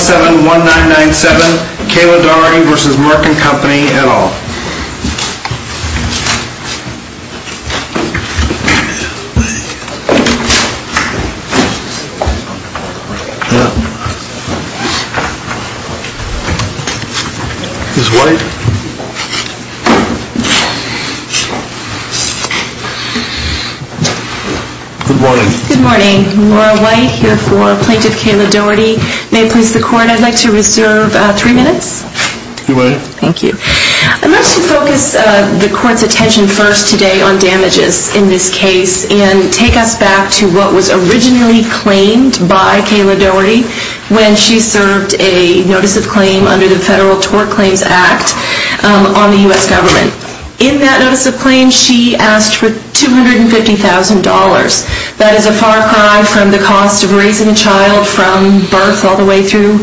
71997, Kayla Doherty v. Merck & Co., et al. Good morning. Good morning. Laura White here for Plaintiff Kayla Doherty. May it please the Court, I'd like to reserve three minutes. You may. Thank you. I'd like to focus the Court's attention first today on damages in this case and take us back to what was originally claimed by Kayla Doherty when she served a notice of claim under the Federal Tort Claims Act on the U.S. government. In that notice of claim, she asked for $250,000. That is a far cry from the cost of raising a child from birth all the way through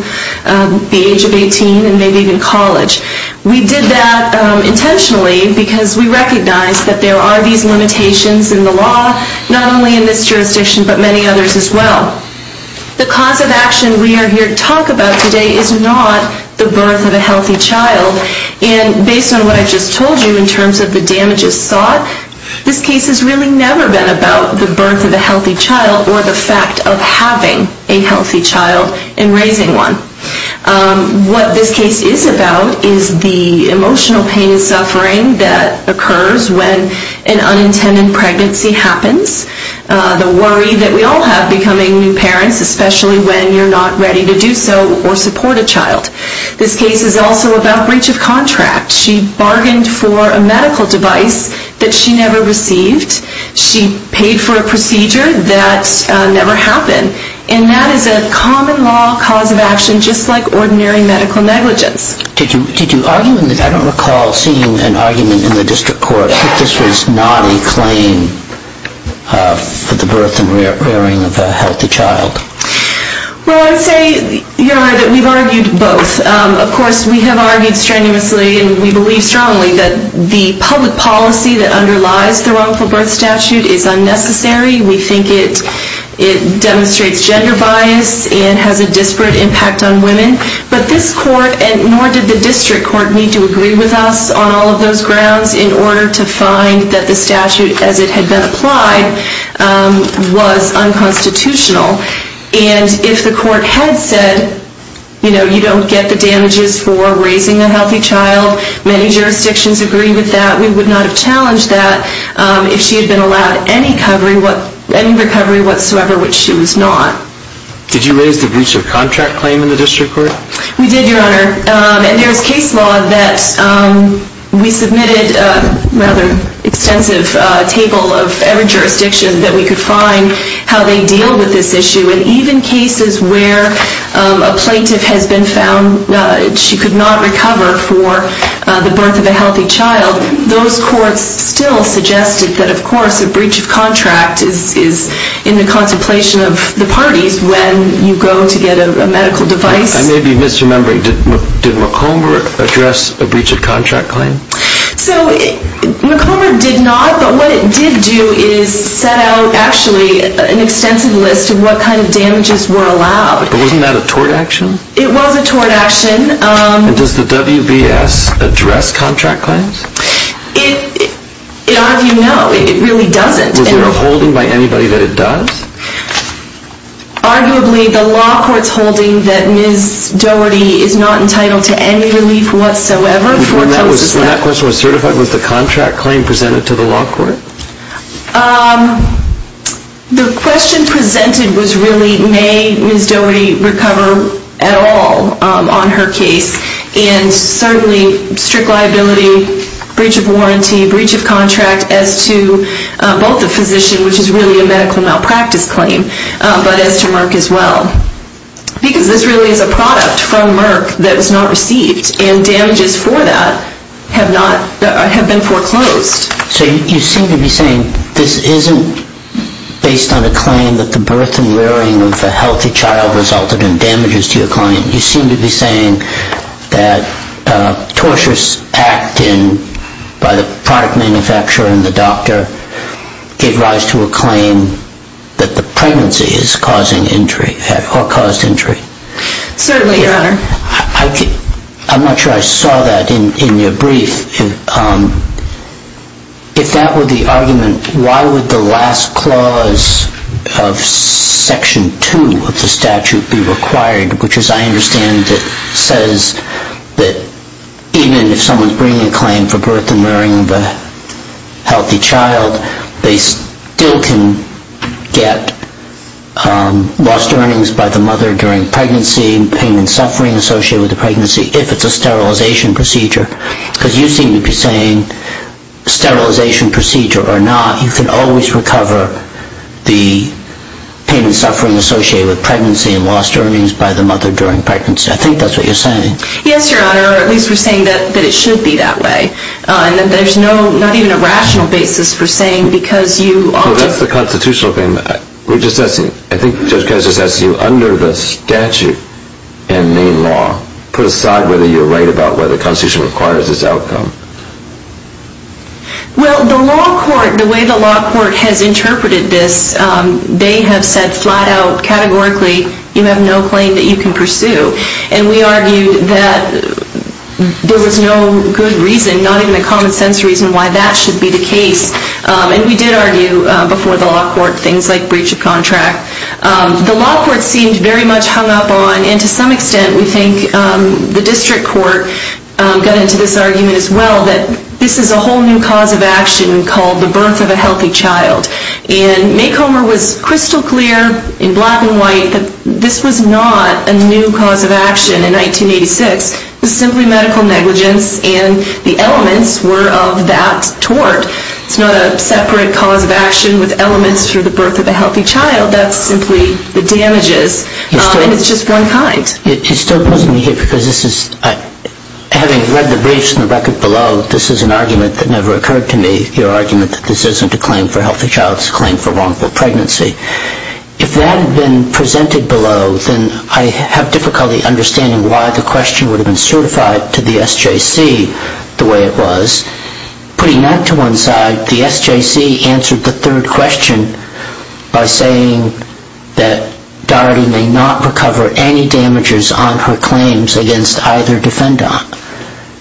the age of 18 and maybe even college. We did that intentionally because we recognize that there are these limitations in the law, not only in this jurisdiction but many others as well. The cause of action we are here to talk about today is not the birth of a healthy child. And based on what I just told you in terms of the damages sought, this case has really never been about the birth of a healthy child or the fact of having a healthy child and raising one. What this case is about is the emotional pain and suffering that occurs when an unintended pregnancy happens, the worry that we all have becoming new parents, especially when you're not ready to do so or support a child. This case is also about breach of contract. She bargained for a medical device that she never received. She paid for a procedure that never happened. And that is a common law cause of action just like ordinary medical negligence. Did you argue in this? I don't recall seeing an argument in the district court that this was not a claim for the birth and rearing of a healthy child. Well, I'd say that we've argued both. Of course, we have argued strenuously, and we believe strongly, that the public policy that underlies the wrongful birth statute is unnecessary. We think it demonstrates gender bias and has a disparate impact on women. But this court, and nor did the district court, need to agree with us on all of those grounds in order to find that the statute as it had been applied was unconstitutional. And if the court had said, you know, you don't get the damages for raising a healthy child, many jurisdictions agree with that. We would not have challenged that if she had been allowed any recovery whatsoever, which she was not. Did you raise the breach of contract claim in the district court? We did, Your Honor. And there's case law that we submitted a rather extensive table of every jurisdiction that we could find how they deal with this issue. And even cases where a plaintiff has been found, she could not recover for the birth of a healthy child, those courts still suggested that, of course, a breach of contract is in the contemplation of the parties when you go to get a medical device. I may be misremembering. Did McComber address a breach of contract claim? So, McComber did not. But what it did do is set out, actually, an extensive list of what kind of damages were allowed. But wasn't that a tort action? It was a tort action. And does the WBS address contract claims? It, as you know, it really doesn't. Was there a holding by anybody that it does? Arguably, the law court's holding that Ms. Dougherty is not entitled to any relief whatsoever. When that question was certified, was the contract claim presented to the law court? The question presented was really, may Ms. Dougherty recover at all on her case? And certainly, strict liability, breach of warranty, breach of contract as to both the physician, which is really a medical malpractice claim, but as to Merck as well. Because this really is a product from Merck that was not received. And damages for that have been foreclosed. So you seem to be saying this isn't based on a claim that the birth and rearing of a healthy child resulted in damages to your client. You seem to be saying that tortious act by the product manufacturer and the doctor gave rise to a claim that the pregnancy is causing injury or caused injury. Certainly, Your Honor. I'm not sure I saw that in your brief. If that were the argument, why would the last clause of Section 2 of the statute be required, which as I understand it says that even if someone's bringing a claim for birth and rearing of a healthy child, they still can get lost earnings by the mother during pregnancy, pain and suffering associated with the pregnancy, if it's a sterilization procedure. Because you seem to be saying sterilization procedure or not, you can always recover the pain and suffering associated with pregnancy and lost earnings by the mother during pregnancy. I think that's what you're saying. Yes, Your Honor. Or at least we're saying that it should be that way. And that there's not even a rational basis for saying because you... Well, that's the constitutional thing. We're just asking, I think Judge Kessler's asking you under the statute and main law, put aside whether you're right about whether the Constitution requires this outcome. Well, the law court, the way the law court has interpreted this, they have said flat out categorically you have no claim that you can pursue. And we argued that there was no good reason, not even a common sense reason why that should be the case. And we did argue before the law court things like breach of contract. The law court seemed very much hung up on, and to some extent we think the district court got into this argument as well, that this is a whole new cause of action called the birth of a healthy child. And Maycomber was crystal clear in black and white that this was not a new cause of action in 1986. It was simply medical negligence and the elements were of that tort. It's not a separate cause of action with elements for the birth of a healthy child. That's simply the damages, and it's just one kind. It still puzzles me here because this is, having read the briefs and the record below, this is an argument that never occurred to me, your argument that this isn't a claim for a healthy child, it's a claim for wrongful pregnancy. If that had been presented below, then I have difficulty understanding why the question would have been certified to the SJC the way it was. Putting that to one side, the SJC answered the third question by saying that Dorothy may not recover any damages on her claims against either defendant.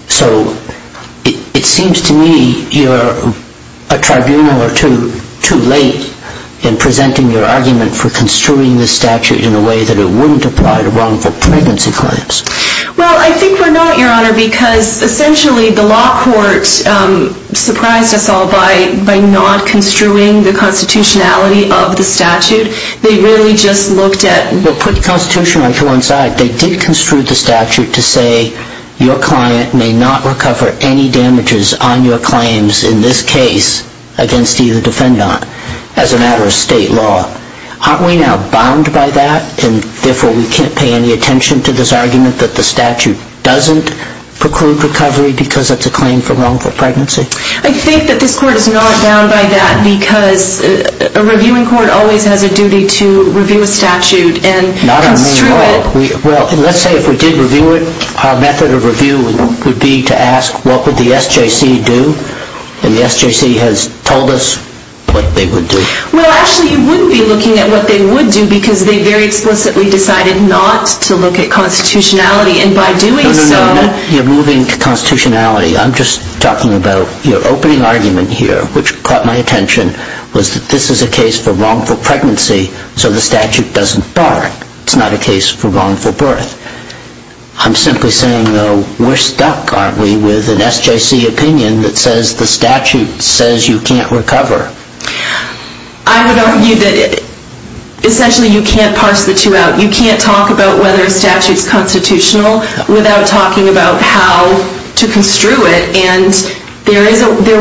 So it seems to me you're a tribunal or two too late in presenting your argument for construing this statute in a way that it wouldn't apply to wrongful pregnancy claims. Well, I think we're not, your honor, because essentially the law court surprised us all by not construing the constitutionality of the statute. They really just looked at... Well, put the constitutionality to one side. They did construe the statute to say your client may not recover any damages on your claims in this case against either defendant as a matter of state law. Aren't we now bound by that and therefore we can't pay any attention to this argument that the statute doesn't preclude recovery because it's a claim for wrongful pregnancy? I think that this court is not bound by that because a reviewing court always has a duty to review a statute and construe it. Well, let's say if we did review it, our method of review would be to ask what would the SJC do? And the SJC has told us what they would do. Well, actually you wouldn't be looking at what they would do because they very explicitly decided not to look at constitutionality and by doing so... No, no, no. You're moving to constitutionality. I'm just talking about your opening argument here which caught my attention was that this is a case for wrongful pregnancy so the statute doesn't bar it. It's not a case for wrongful birth. I'm simply saying, though, we're stuck, aren't we, with an SJC opinion that says the statute says you can't recover. I would argue that essentially you can't parse the two out. You can't talk about whether a statute is constitutional without talking about how to construe it and there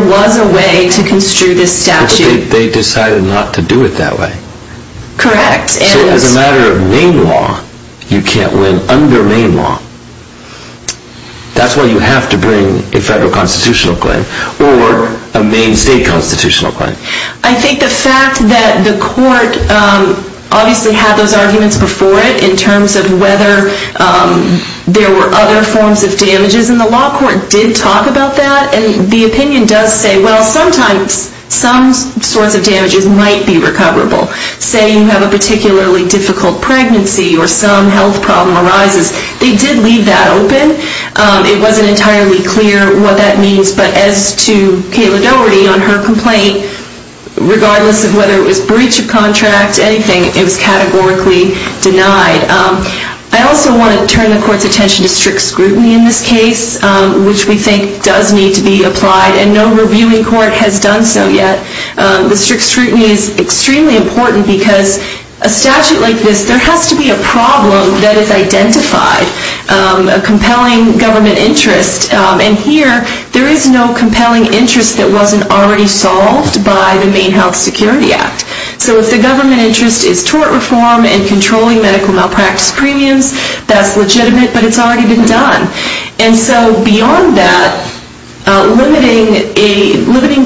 was a way to construe this statute. But they decided not to do it that way. Correct. So as a matter of Maine law, you can't win under Maine law. That's why you have to bring a federal constitutional claim or a Maine state constitutional claim. I think the fact that the court obviously had those arguments before it in terms of whether there were other forms of damages and the law court did talk about that and the opinion does say, well, sometimes some sorts of damages might be recoverable. Say you have a particularly difficult pregnancy or some health problem arises. They did leave that open. It wasn't entirely clear what that means but as to Kayla Doherty on her complaint, regardless of whether it was breach of contract, anything, it was categorically denied. I also want to turn the court's attention to strict scrutiny in this case, which we think does need to be applied and no reviewing court has done so yet. The strict scrutiny is extremely important because a statute like this, there has to be a problem that is identified, a compelling government interest. And here, there is no compelling interest that wasn't already solved by the Maine Health Security Act. So if the government interest is tort reform and controlling medical malpractice premiums, that's legitimate but it's already been done. And so beyond that, limiting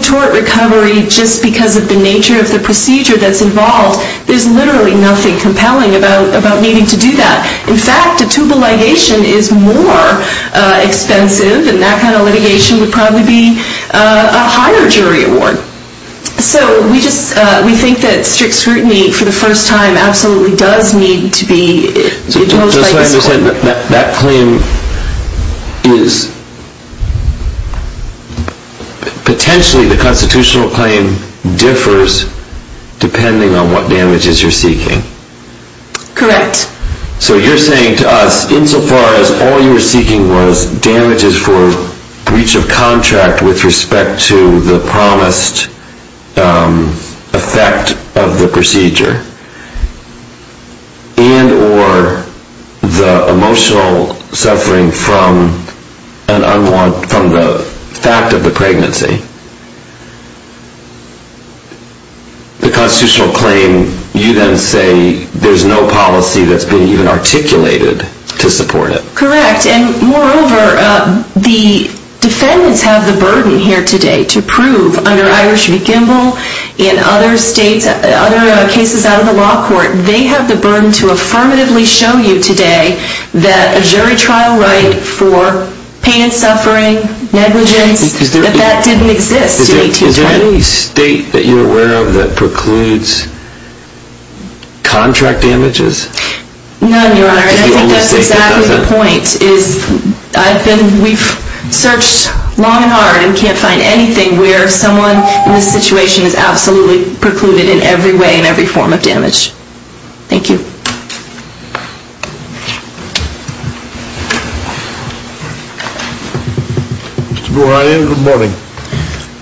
tort recovery just because of the nature of the procedure that's involved, there's literally nothing compelling about needing to do that. In fact, a tubal ligation is more expensive and that kind of litigation would probably be a higher jury award. So we think that strict scrutiny for the first time absolutely does need to be imposed by this claim. Just so I understand, that claim is, potentially the constitutional claim differs depending on what damages you're seeking. Correct. So you're saying to us, insofar as all you were seeking was damages for breach of contract with respect to the promised effect of the procedure, and or the emotional suffering from the fact of the pregnancy, the constitutional claim, you then say there's no policy that's been even articulated to support it. Correct. And moreover, the defendants have the burden here today to prove under Irish v. Gimbel and other cases out of the law court, they have the burden to affirmatively show you today that a jury trial right for pain and suffering, negligence, that that didn't exist in 1820. Is there any state that you're aware of that precludes contract damages? None, Your Honor, and I think that's exactly the point. We've searched long and hard and can't find anything where someone in this situation is absolutely precluded in every way and every form of damage. Mr. Boranian, good morning.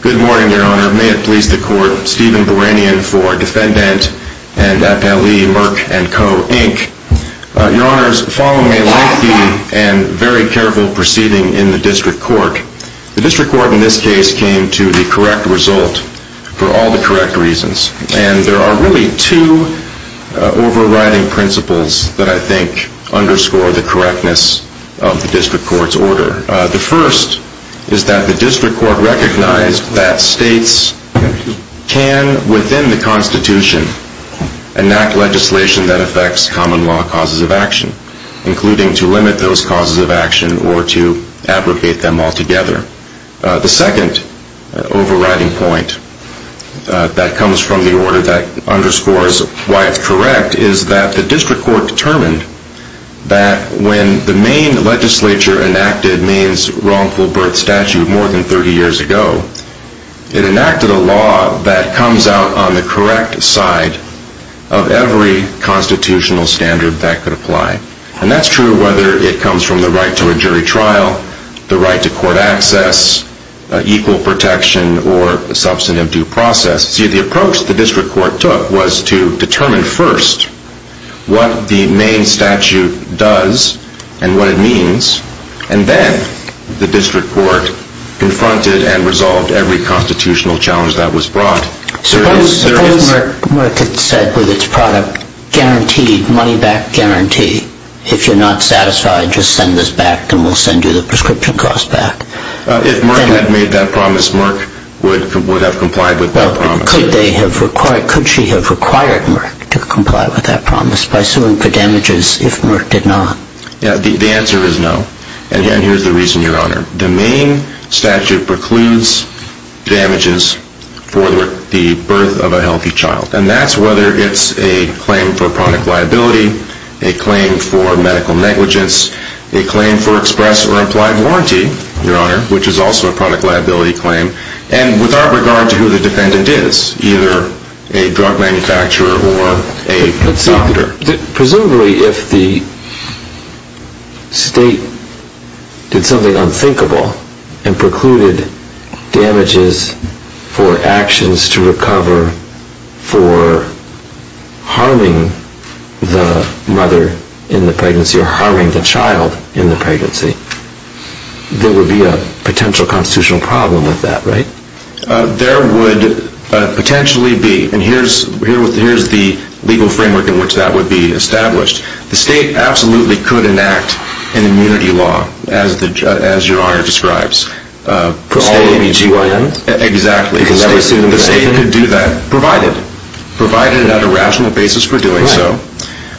Good morning, Your Honor. May it please the Court, Stephen Boranian for Defendant and Appellee Merck & Co, Inc. Your Honors, following a lengthy and very careful proceeding in the district court, the district court in this case came to the correct result for all the correct reasons. And there are really two overriding principles that I think underscore the correctness of the district court's order. The first is that the district court recognized that states can, within the Constitution, enact legislation that affects common law causes of action, including to limit those causes of action or to abrogate them altogether. The second overriding point that comes from the order that underscores why it's correct is that the district court determined that when the Maine legislature enacted Maine's wrongful birth statute more than 30 years ago, it enacted a law that comes out on the correct side of every constitutional standard that could apply. And that's true whether it comes from the right to a jury trial, the right to court access, equal protection, or substantive due process. See, the approach the district court took was to determine first what the Maine statute does and what it means, and then the district court confronted and resolved every constitutional challenge that was brought. Suppose Merck had said with its product, guaranteed, money-back guarantee, if you're not satisfied, just send this back and we'll send you the prescription cost back. If Merck had made that promise, Merck would have complied with that promise. Could she have required Merck to comply with that promise by suing for damages if Merck did not? The answer is no, and here's the reason, Your Honor. The Maine statute precludes damages for the birth of a healthy child, and that's whether it's a claim for product liability, a claim for medical negligence, a claim for express or implied warranty, Your Honor, which is also a product liability claim, and without regard to who the defendant is, either a drug manufacturer or a doctor. Presumably if the state did something unthinkable and precluded damages for actions to recover for harming the mother in the pregnancy or harming the child in the pregnancy, there would be a potential constitutional problem with that, right? There would potentially be, and here's the legal framework in which that would be established. The state absolutely could enact an immunity law, as Your Honor describes. For all ABGYNs? Exactly. The state could do that, provided on a rational basis for doing so,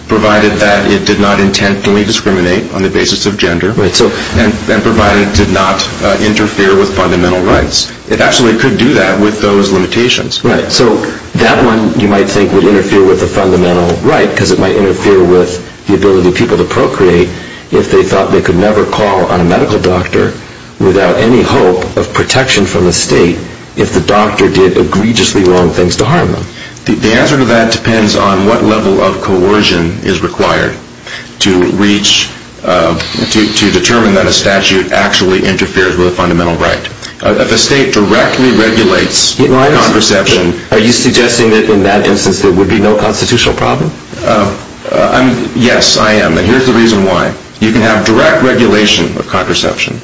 provided that it did not intentionally discriminate on the basis of gender, and provided it did not interfere with fundamental rights. It absolutely could do that with those limitations. Right, so that one you might think would interfere with the fundamental right, because it might interfere with the ability of people to procreate if they thought they could never call on a medical doctor without any hope of protection from the state if the doctor did egregiously wrong things to harm them. The answer to that depends on what level of coercion is required to reach, to determine that a statute actually interferes with a fundamental right. If a state directly regulates contraception... Are you suggesting that in that instance there would be no constitutional problem? Yes, I am. And here's the reason why. You can have direct regulation of contraception.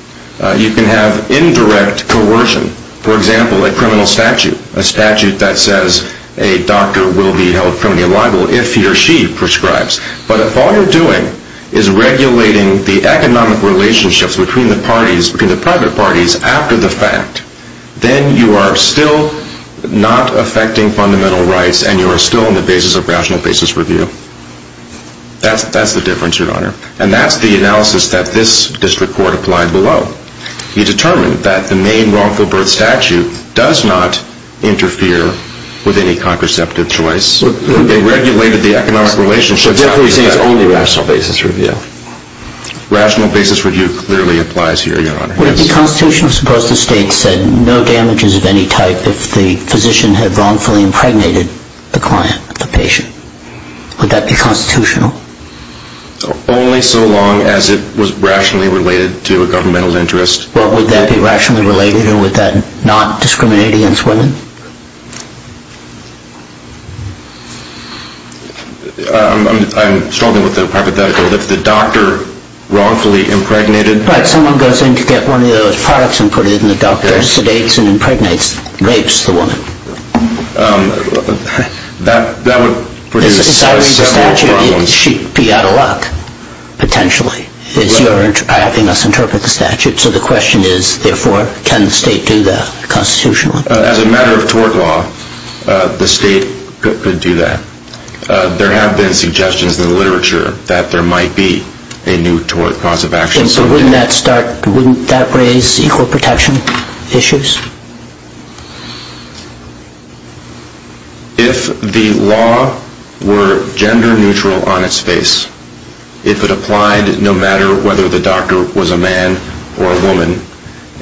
You can have indirect coercion. For example, a criminal statute. A statute that says a doctor will be held criminally liable if he or she prescribes. But if all you're doing is regulating the economic relationships between the parties, between the private parties, after the fact, then you are still not affecting fundamental rights, and you are still on the basis of rational basis review. That's the difference, Your Honor. And that's the analysis that this district court applied below. It determined that the main wrongful birth statute does not interfere with any contraceptive choice. It regulated the economic relationships... So you're saying it's only rational basis review? Rational basis review clearly applies here, Your Honor. Would it be constitutional to suppose the state said no damages of any type if the physician had wrongfully impregnated the client, the patient? Would that be constitutional? Only so long as it was rationally related to a governmental interest. Well, would that be rationally related, or would that not discriminate against women? I'm struggling with the hypothetical. If the doctor wrongfully impregnated... Right, someone goes in to get one of those products and put it in the doctor, sedates and impregnates, rapes the woman. That would produce several problems. It would be out of luck, potentially, if you're having us interpret the statute. So the question is, therefore, can the state do that constitutionally? As a matter of tort law, the state could do that. There have been suggestions in the literature that there might be a new tort cause of action. So wouldn't that raise equal protection issues? If the law were gender neutral on its face, if it applied no matter whether the doctor was a man or a woman,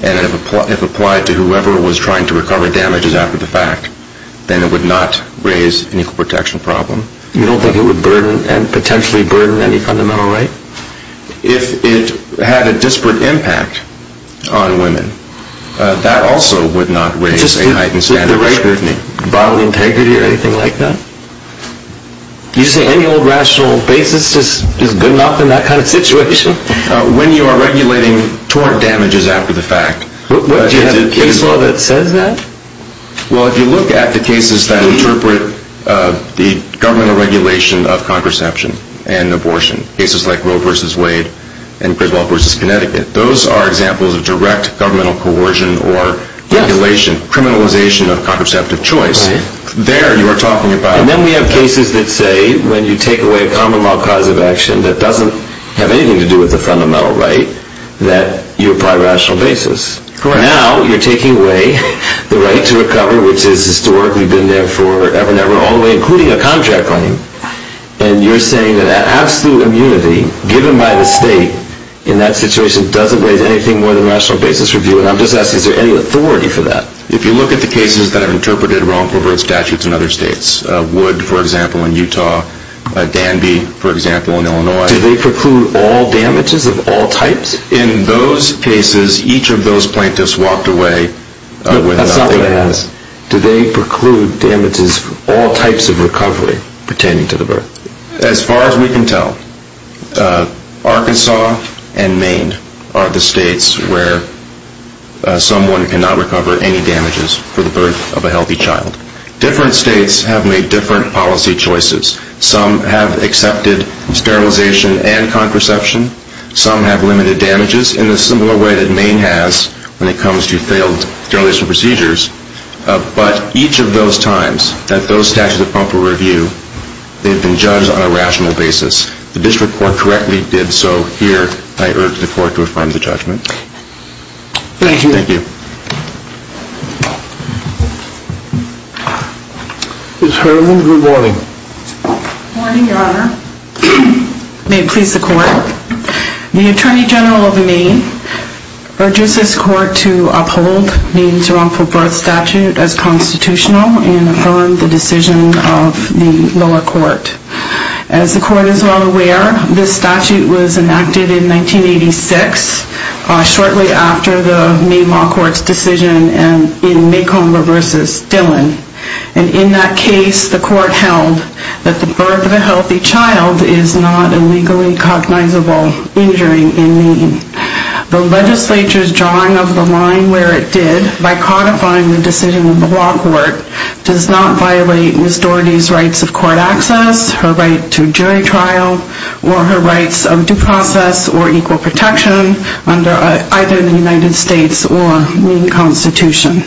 and if it applied to whoever was trying to recover damages after the fact, then it would not raise an equal protection problem. You don't think it would potentially burden any fundamental right? If it had a disparate impact on women, that also would not raise a heightened standard of scrutiny. Just the right bodily integrity or anything like that? You say any old rational basis is good enough in that kind of situation? When you are regulating tort damages after the fact... Do you have a case law that says that? Well, if you look at the cases that interpret the governmental regulation of contraception and abortion, cases like Roe v. Wade and Griswold v. Connecticut, those are examples of direct governmental coercion or criminalization of contraceptive choice. There you are talking about... And then we have cases that say when you take away a common law cause of action that doesn't have anything to do with the fundamental right, that you apply rational basis. Now you are taking away the right to recover, which has historically been there forever and ever, all the way including a contract claim. And you are saying that absolute immunity given by the state in that situation doesn't raise anything more than rational basis review. And I'm just asking, is there any authority for that? If you look at the cases that have interpreted wrongful birth statutes in other states, Wood, for example, in Utah, Danby, for example, in Illinois... Do they preclude all damages of all types? In those cases, each of those plaintiffs walked away... That's not what I asked. Do they preclude damages for all types of recovery? As far as we can tell, Arkansas and Maine are the states where someone cannot recover any damages for the birth of a healthy child. Different states have made different policy choices. Some have accepted sterilization and contraception. Some have limited damages in a similar way that Maine has when it comes to failed sterilization procedures. But each of those times that those statutes are pumped for review, they've been judged on a rational basis. The district court correctly did so here. I urge the court to refine the judgment. Thank you. Thank you. Ms. Herman, good morning. Good morning, Your Honor. The Attorney General of Maine urges this court to uphold Maine's wrongful birth statute as constitutional and affirm the decision of the lower court. As the court is well aware, this statute was enacted in 1986, shortly after the Maine Law Court's decision in Macomb v. Dillon. And in that case, the court held that the birth of a healthy child is not a legally cognizable injury in Maine. The legislature's drawing of the line where it did, by codifying the decision of the lower court, does not violate Ms. Daugherty's rights of court access, her right to jury trial, or her rights of due process or equal protection under either the United States or Maine Constitution.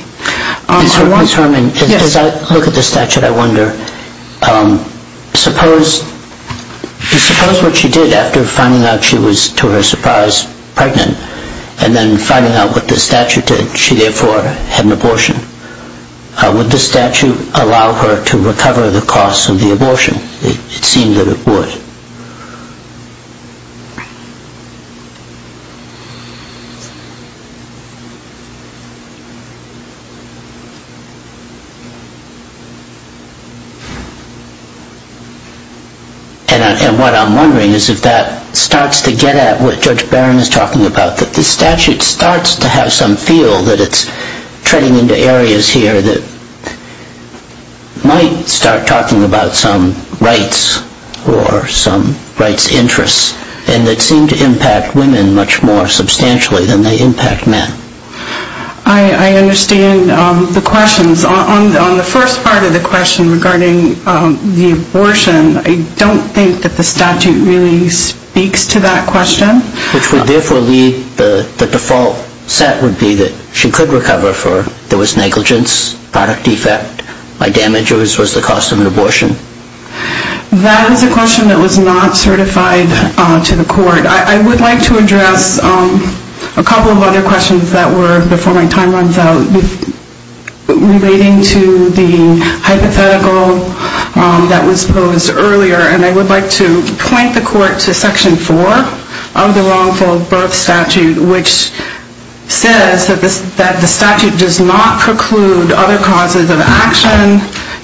Ms. Herman, as I look at the statute, I wonder, suppose what she did after finding out she was, to her surprise, pregnant, and then finding out what the statute did, she therefore had an abortion. Would the statute allow her to recover the costs of the abortion? It seemed that it would. And what I'm wondering is if that starts to get at what Judge Barron is talking about, that the statute starts to have some feel that it's treading into areas here that might start talking about some rights or some rights interests, and that seem to impact women much more substantially than they impact men. I understand the questions. On the first part of the question regarding the abortion, I don't think that the statute really speaks to that question. Which would therefore lead, the default set would be that she could recover for there was negligence, product defect, by damages was the cost of an abortion? That is a question that was not certified to the court. I would like to address a couple of other questions that were before my time runs out relating to the hypothetical that was posed earlier, and I would like to point the court to Section 4 of the Wrongful Birth Statute, which says that the statute does not preclude other causes of action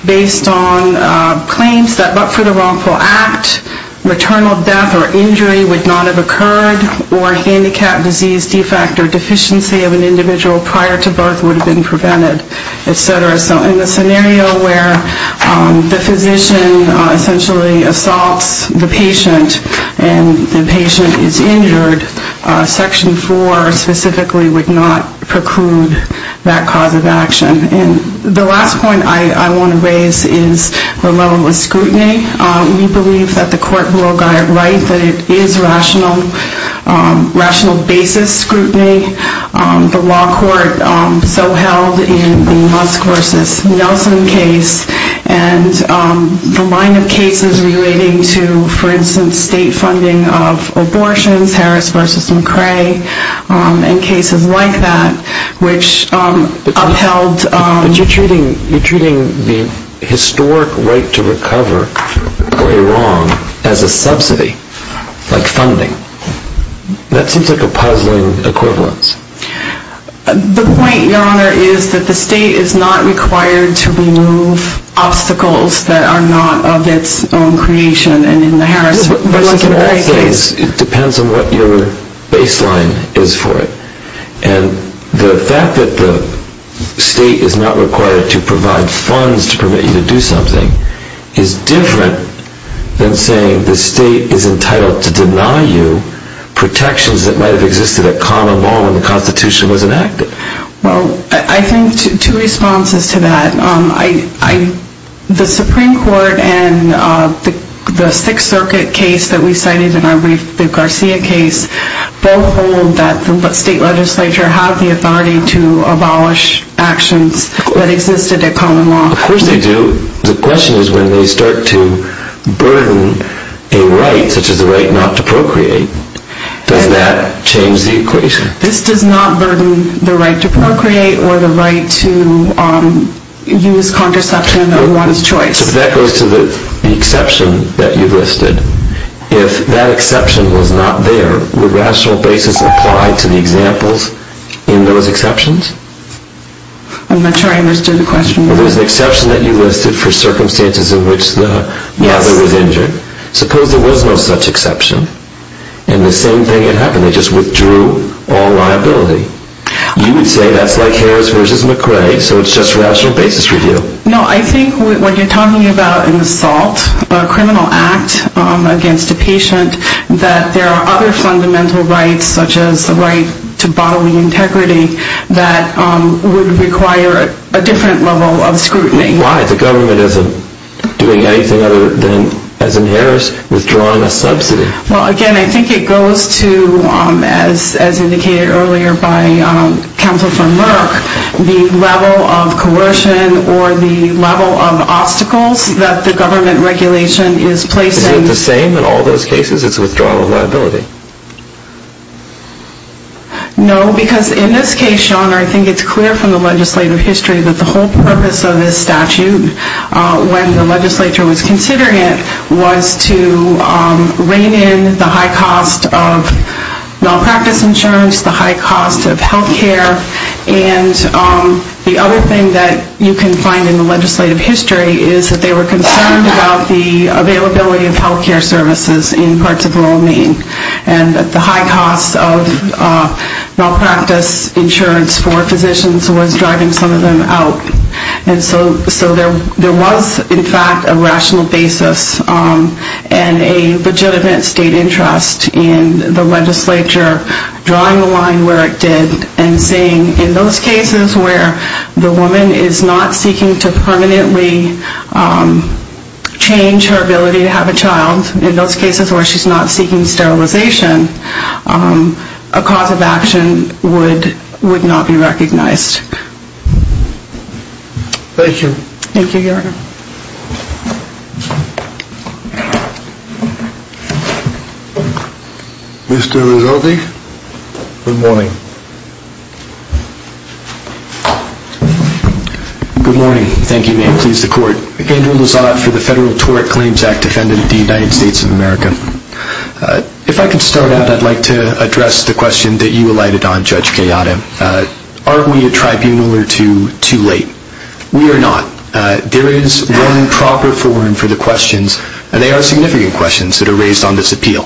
based on claims that but for the wrongful act, maternal death or injury would not have occurred, or handicap, disease, defect, or deficiency of an individual prior to birth would have been prevented, etc. So in the scenario where the physician essentially assaults the patient and the patient is injured, Section 4 specifically would not preclude that cause of action. The last point I want to raise is the level of scrutiny. We believe that the court broke our right that it is rational basis scrutiny. The law court so held in the Musk v. Nelson case, and the line of cases relating to, for instance, state funding of abortions, Harris v. McCrae, and cases like that, which upheld... But you're treating the historic right to recover for a wrong as a subsidy, like funding. That seems like a puzzling equivalence. The point, Your Honor, is that the state is not required to remove obstacles that are not of its own creation, and in the Harris v. McCrae case... It depends on what your baseline is for it. And the fact that the state is not required to provide funds to permit you to do something is different than saying the state is entitled to deny you protections that might have existed at common law when the Constitution was enacted. Well, I think two responses to that. The Supreme Court and the Sixth Circuit case that we cited in the Garcia case both hold that the state legislature had the authority to abolish actions that existed at common law. Of course they do. The question is when they start to burden a right, such as the right not to procreate, does that change the equation? This does not burden the right to procreate or the right to use contraception of one's choice. If that goes to the exception that you listed, if that exception was not there, would rational basis apply to the examples in those exceptions? I'm not sure I understood the question. Well, there's an exception that you listed for circumstances in which the mother was injured. Suppose there was no such exception and the same thing had happened. They just withdrew all liability. You would say that's like Harris versus McRae, so it's just rational basis review. No, I think what you're talking about in the SALT, a criminal act against a patient, that there are other fundamental rights, such as the right to bodily integrity, that would require a different level of scrutiny. Why? The government isn't doing anything other than, as in Harris, withdrawing a subsidy. Well, again, I think it goes to, as indicated earlier by counsel for Merck, the level of coercion or the level of obstacles that the government regulation is placing. Is it the same in all those cases? It's withdrawal of liability. No, because in this case, Sean, I think it's clear from the legislative history that the whole purpose of this statute, when the legislature was considering it, was to rein in the high cost of malpractice insurance, the high cost of health care. And the other thing that you can find in the legislative history is that they were concerned about the availability of health care services in parts of rural Maine and that the high cost of malpractice insurance for physicians was driving some of them out. And so there was, in fact, a rational basis and a legitimate state interest in the legislature drawing the line where it did and saying, in those cases where the woman is not seeking to permanently change her ability to have a child, in those cases where she's not seeking sterilization, a cause of action would not be recognized. Thank you, Your Honor. Mr. Rizzotti, good morning. Good morning. Thank you. May it please the Court. Andrew Rizzotti for the Federal Tort Claims Act, defendant of the United States of America. If I could start out, I'd like to address the question that you alighted on, Judge Cayatta. Are we a tribunal or two too late? We are not. There is one proper forum for the questions, and they are significant questions that are raised on this appeal,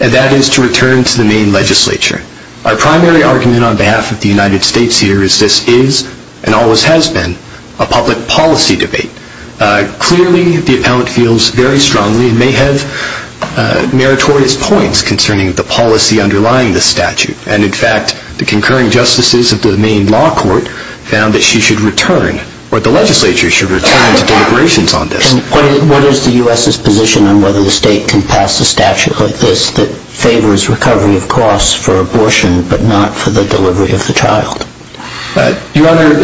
and that is to return to the Maine legislature. Our primary argument on behalf of the United States here is this is, and always has been, a public policy debate. Clearly, the appellant feels very strongly and may have meritorious points concerning the policy underlying the statute. And, in fact, the concurring justices of the Maine law court found that she should return, or the legislature should return to deliberations on this. What is the U.S.'s position on whether the state can pass a statute like this that favors recovery of costs for abortion, but not for the delivery of the child? Your Honor,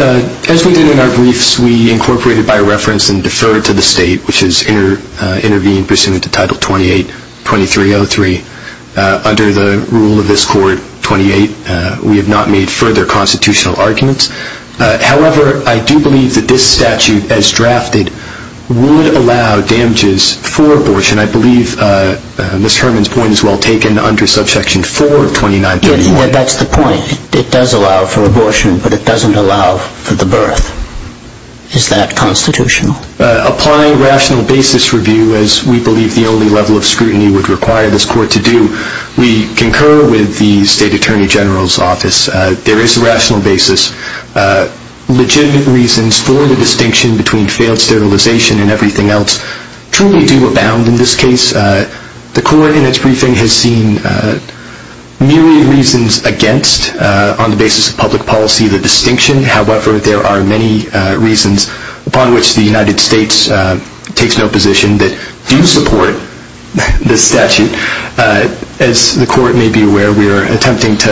as we did in our briefs, we incorporated by reference and deferred to the state, which has intervened pursuant to Title 28-2303. Under the rule of this court, 28, we have not made further constitutional arguments. However, I do believe that this statute, as drafted, would allow damages for abortion. I believe Ms. Herman's point is well taken under subsection 4 of 29-2303. That's the point. It does allow for abortion, but it doesn't allow for the birth. Is that constitutional? Applying rational basis review, as we believe the only level of scrutiny would require this court to do, we concur with the state attorney general's office. There is a rational basis. Legitimate reasons for the distinction between failed sterilization and everything else truly do abound in this case. The court in its briefing has seen myriad reasons against, on the basis of public policy, the distinction. However, there are many reasons upon which the United States takes no position that do support this statute. As the court may be aware, we are attempting to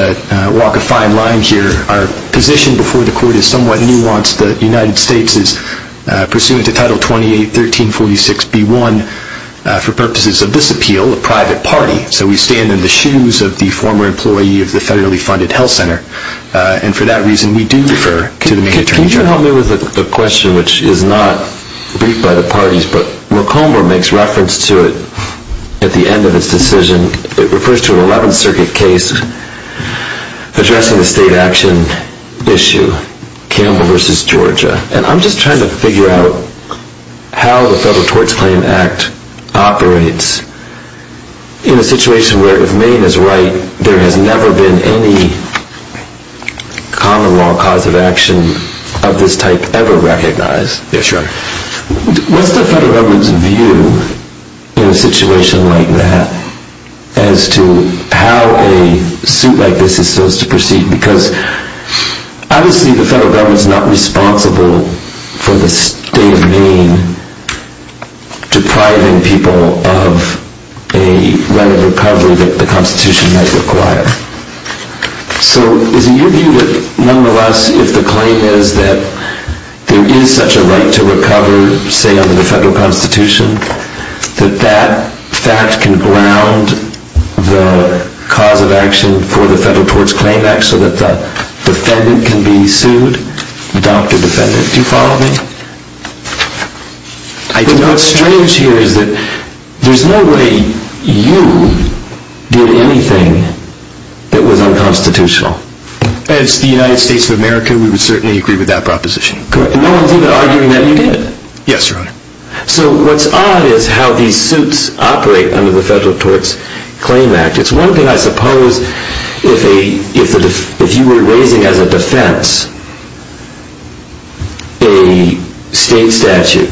walk a fine line here. Our position before the court is somewhat nuanced. The United States is pursuant to Title 28-1346-B1 for purposes of this appeal, a private party. So we stand in the shoes of the former employee of the federally funded health center. And for that reason, we do refer to the state attorney general. Could you help me with a question which is not briefed by the parties, but McComber makes reference to it at the end of his decision. It refers to an 11th Circuit case addressing the state action issue, Campbell v. Georgia. And I'm just trying to figure out how the Federal Tort Claim Act operates in a situation where, if Maine is right, there has never been any common law cause of action of this type ever recognized. Yes, Your Honor. What's the federal government's view in a situation like that as to how a suit like this is supposed to proceed? Because, obviously, the federal government is not responsible for the state of Maine depriving people of a right of recovery that the Constitution might require. So is it your view that, nonetheless, if the claim is that there is such a right to recover, say under the federal Constitution, that that fact can ground the cause of action for the Federal Tort Claim Act so that the defendant can be sued? Dr. Defendant, do you follow me? What's strange here is that there's no way you did anything that was unconstitutional. As the United States of America, we would certainly agree with that proposition. No one's even arguing that you did. Yes, Your Honor. So what's odd is how these suits operate under the Federal Tort Claim Act. It's one thing, I suppose, if you were raising as a defense a state statute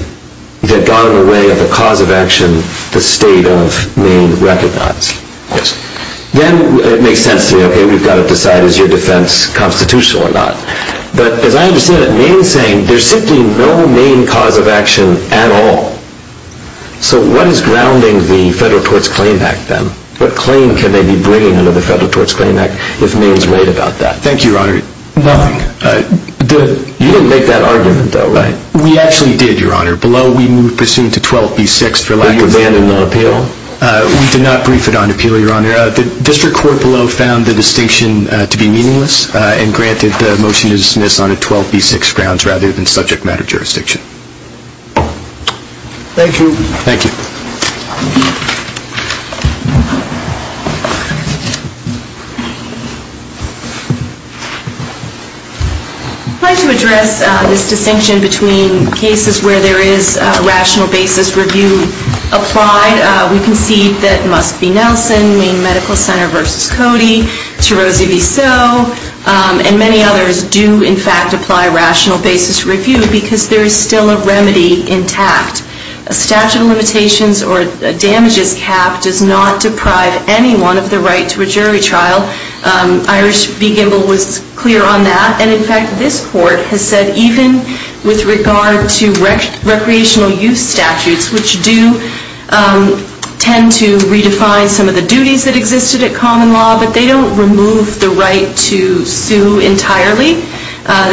that got in the way of the cause of action the state of Maine recognized. Yes. Then it makes sense to me, OK, we've got to decide is your defense constitutional or not. But as I understand it, Maine's saying there's simply no main cause of action at all. So what is grounding the Federal Tort Claim Act then? What claim can they be bringing under the Federal Tort Claim Act if Maine's right about that? Thank you, Your Honor. Nothing. You didn't make that argument, though, right? We actually did, Your Honor. Below, we moved pursuant to 12B6 for lack of... Did you abandon the appeal? We did not brief it on appeal, Your Honor. The district court below found the distinction to be meaningless and granted the motion to dismiss on a 12B6 grounds rather than subject matter jurisdiction. Thank you. Thank you. I'd like to address this distinction between cases where there is a rational basis review applied. We concede that Muskegee-Nelson, Maine Medical Center v. Cody, Tarosi v. Soe, and many others do, in fact, apply rational basis review because there is still a remedy intact. A statute of limitations or damages cap does not deprive anyone of the right to a jury trial. Iris B. Gimbel was clear on that. And, in fact, this Court has said even with regard to recreational use statutes, which do tend to redefine some of the duties that existed at common law, but they don't remove the right to sue entirely.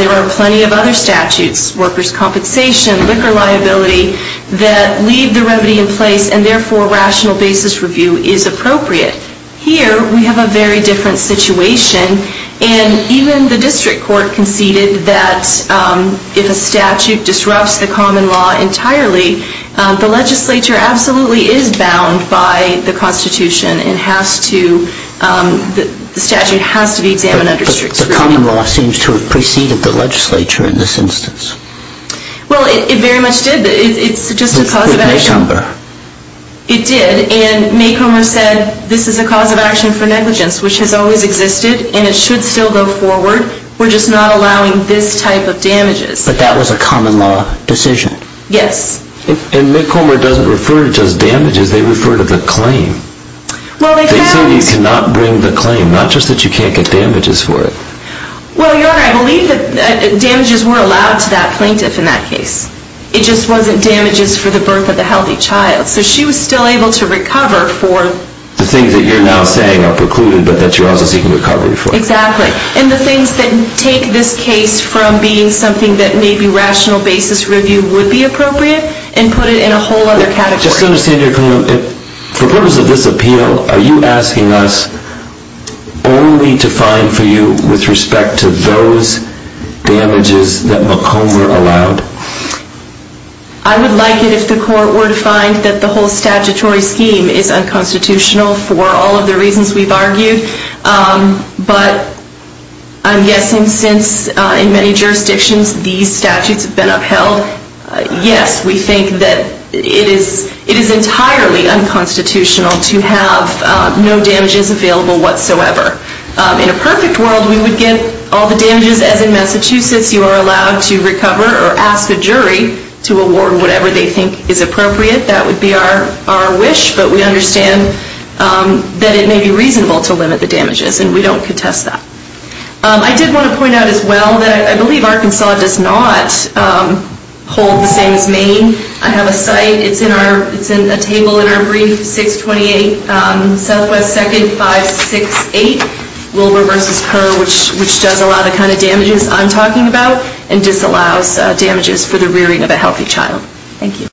There are plenty of other statutes, workers' compensation, liquor liability, that leave the remedy in place and, therefore, rational basis review is appropriate. Here we have a very different situation. And even the district court conceded that if a statute disrupts the common law entirely, the legislature absolutely is bound by the Constitution and has to... the statute has to be examined under strict scrutiny. The common law seems to have preceded the legislature in this instance. Well, it very much did. It's just a cause of action. It did. And Mick Homer said this is a cause of action for negligence, which has always existed and it should still go forward. We're just not allowing this type of damages. But that was a common law decision. Yes. And Mick Homer doesn't refer to just damages. They refer to the claim. They say you cannot bring the claim, not just that you can't get damages for it. Well, Your Honor, I believe that damages were allowed to that plaintiff in that case. It just wasn't damages for the birth of a healthy child. So she was still able to recover for... The things that you're now saying are precluded, but that you're also seeking recovery for. Exactly. And the things that take this case from being something that maybe rational basis review would be appropriate and put it in a whole other category. Just to understand, Your Honor, for purpose of this appeal, are you asking us only to find for you with respect to those damages that Mick Homer allowed? I would like it if the court were to find that the whole statutory scheme is unconstitutional for all of the reasons we've argued. But I'm guessing since in many jurisdictions these statutes have been upheld, yes, we think that it is entirely unconstitutional to have no damages available whatsoever. In a perfect world, we would get all the damages. As in Massachusetts, you are allowed to recover or ask a jury to award whatever they think is appropriate. That would be our wish. But we understand that it may be reasonable to limit the damages, and we don't contest that. I did want to point out as well that I believe Arkansas does not hold the same as Maine. I have a site. It's in a table in our brief, 628 Southwest 2nd 568 Wilbur v. Kerr, which does a lot of the kind of damages I'm talking about and disallows damages for the rearing of a healthy child. Thank you.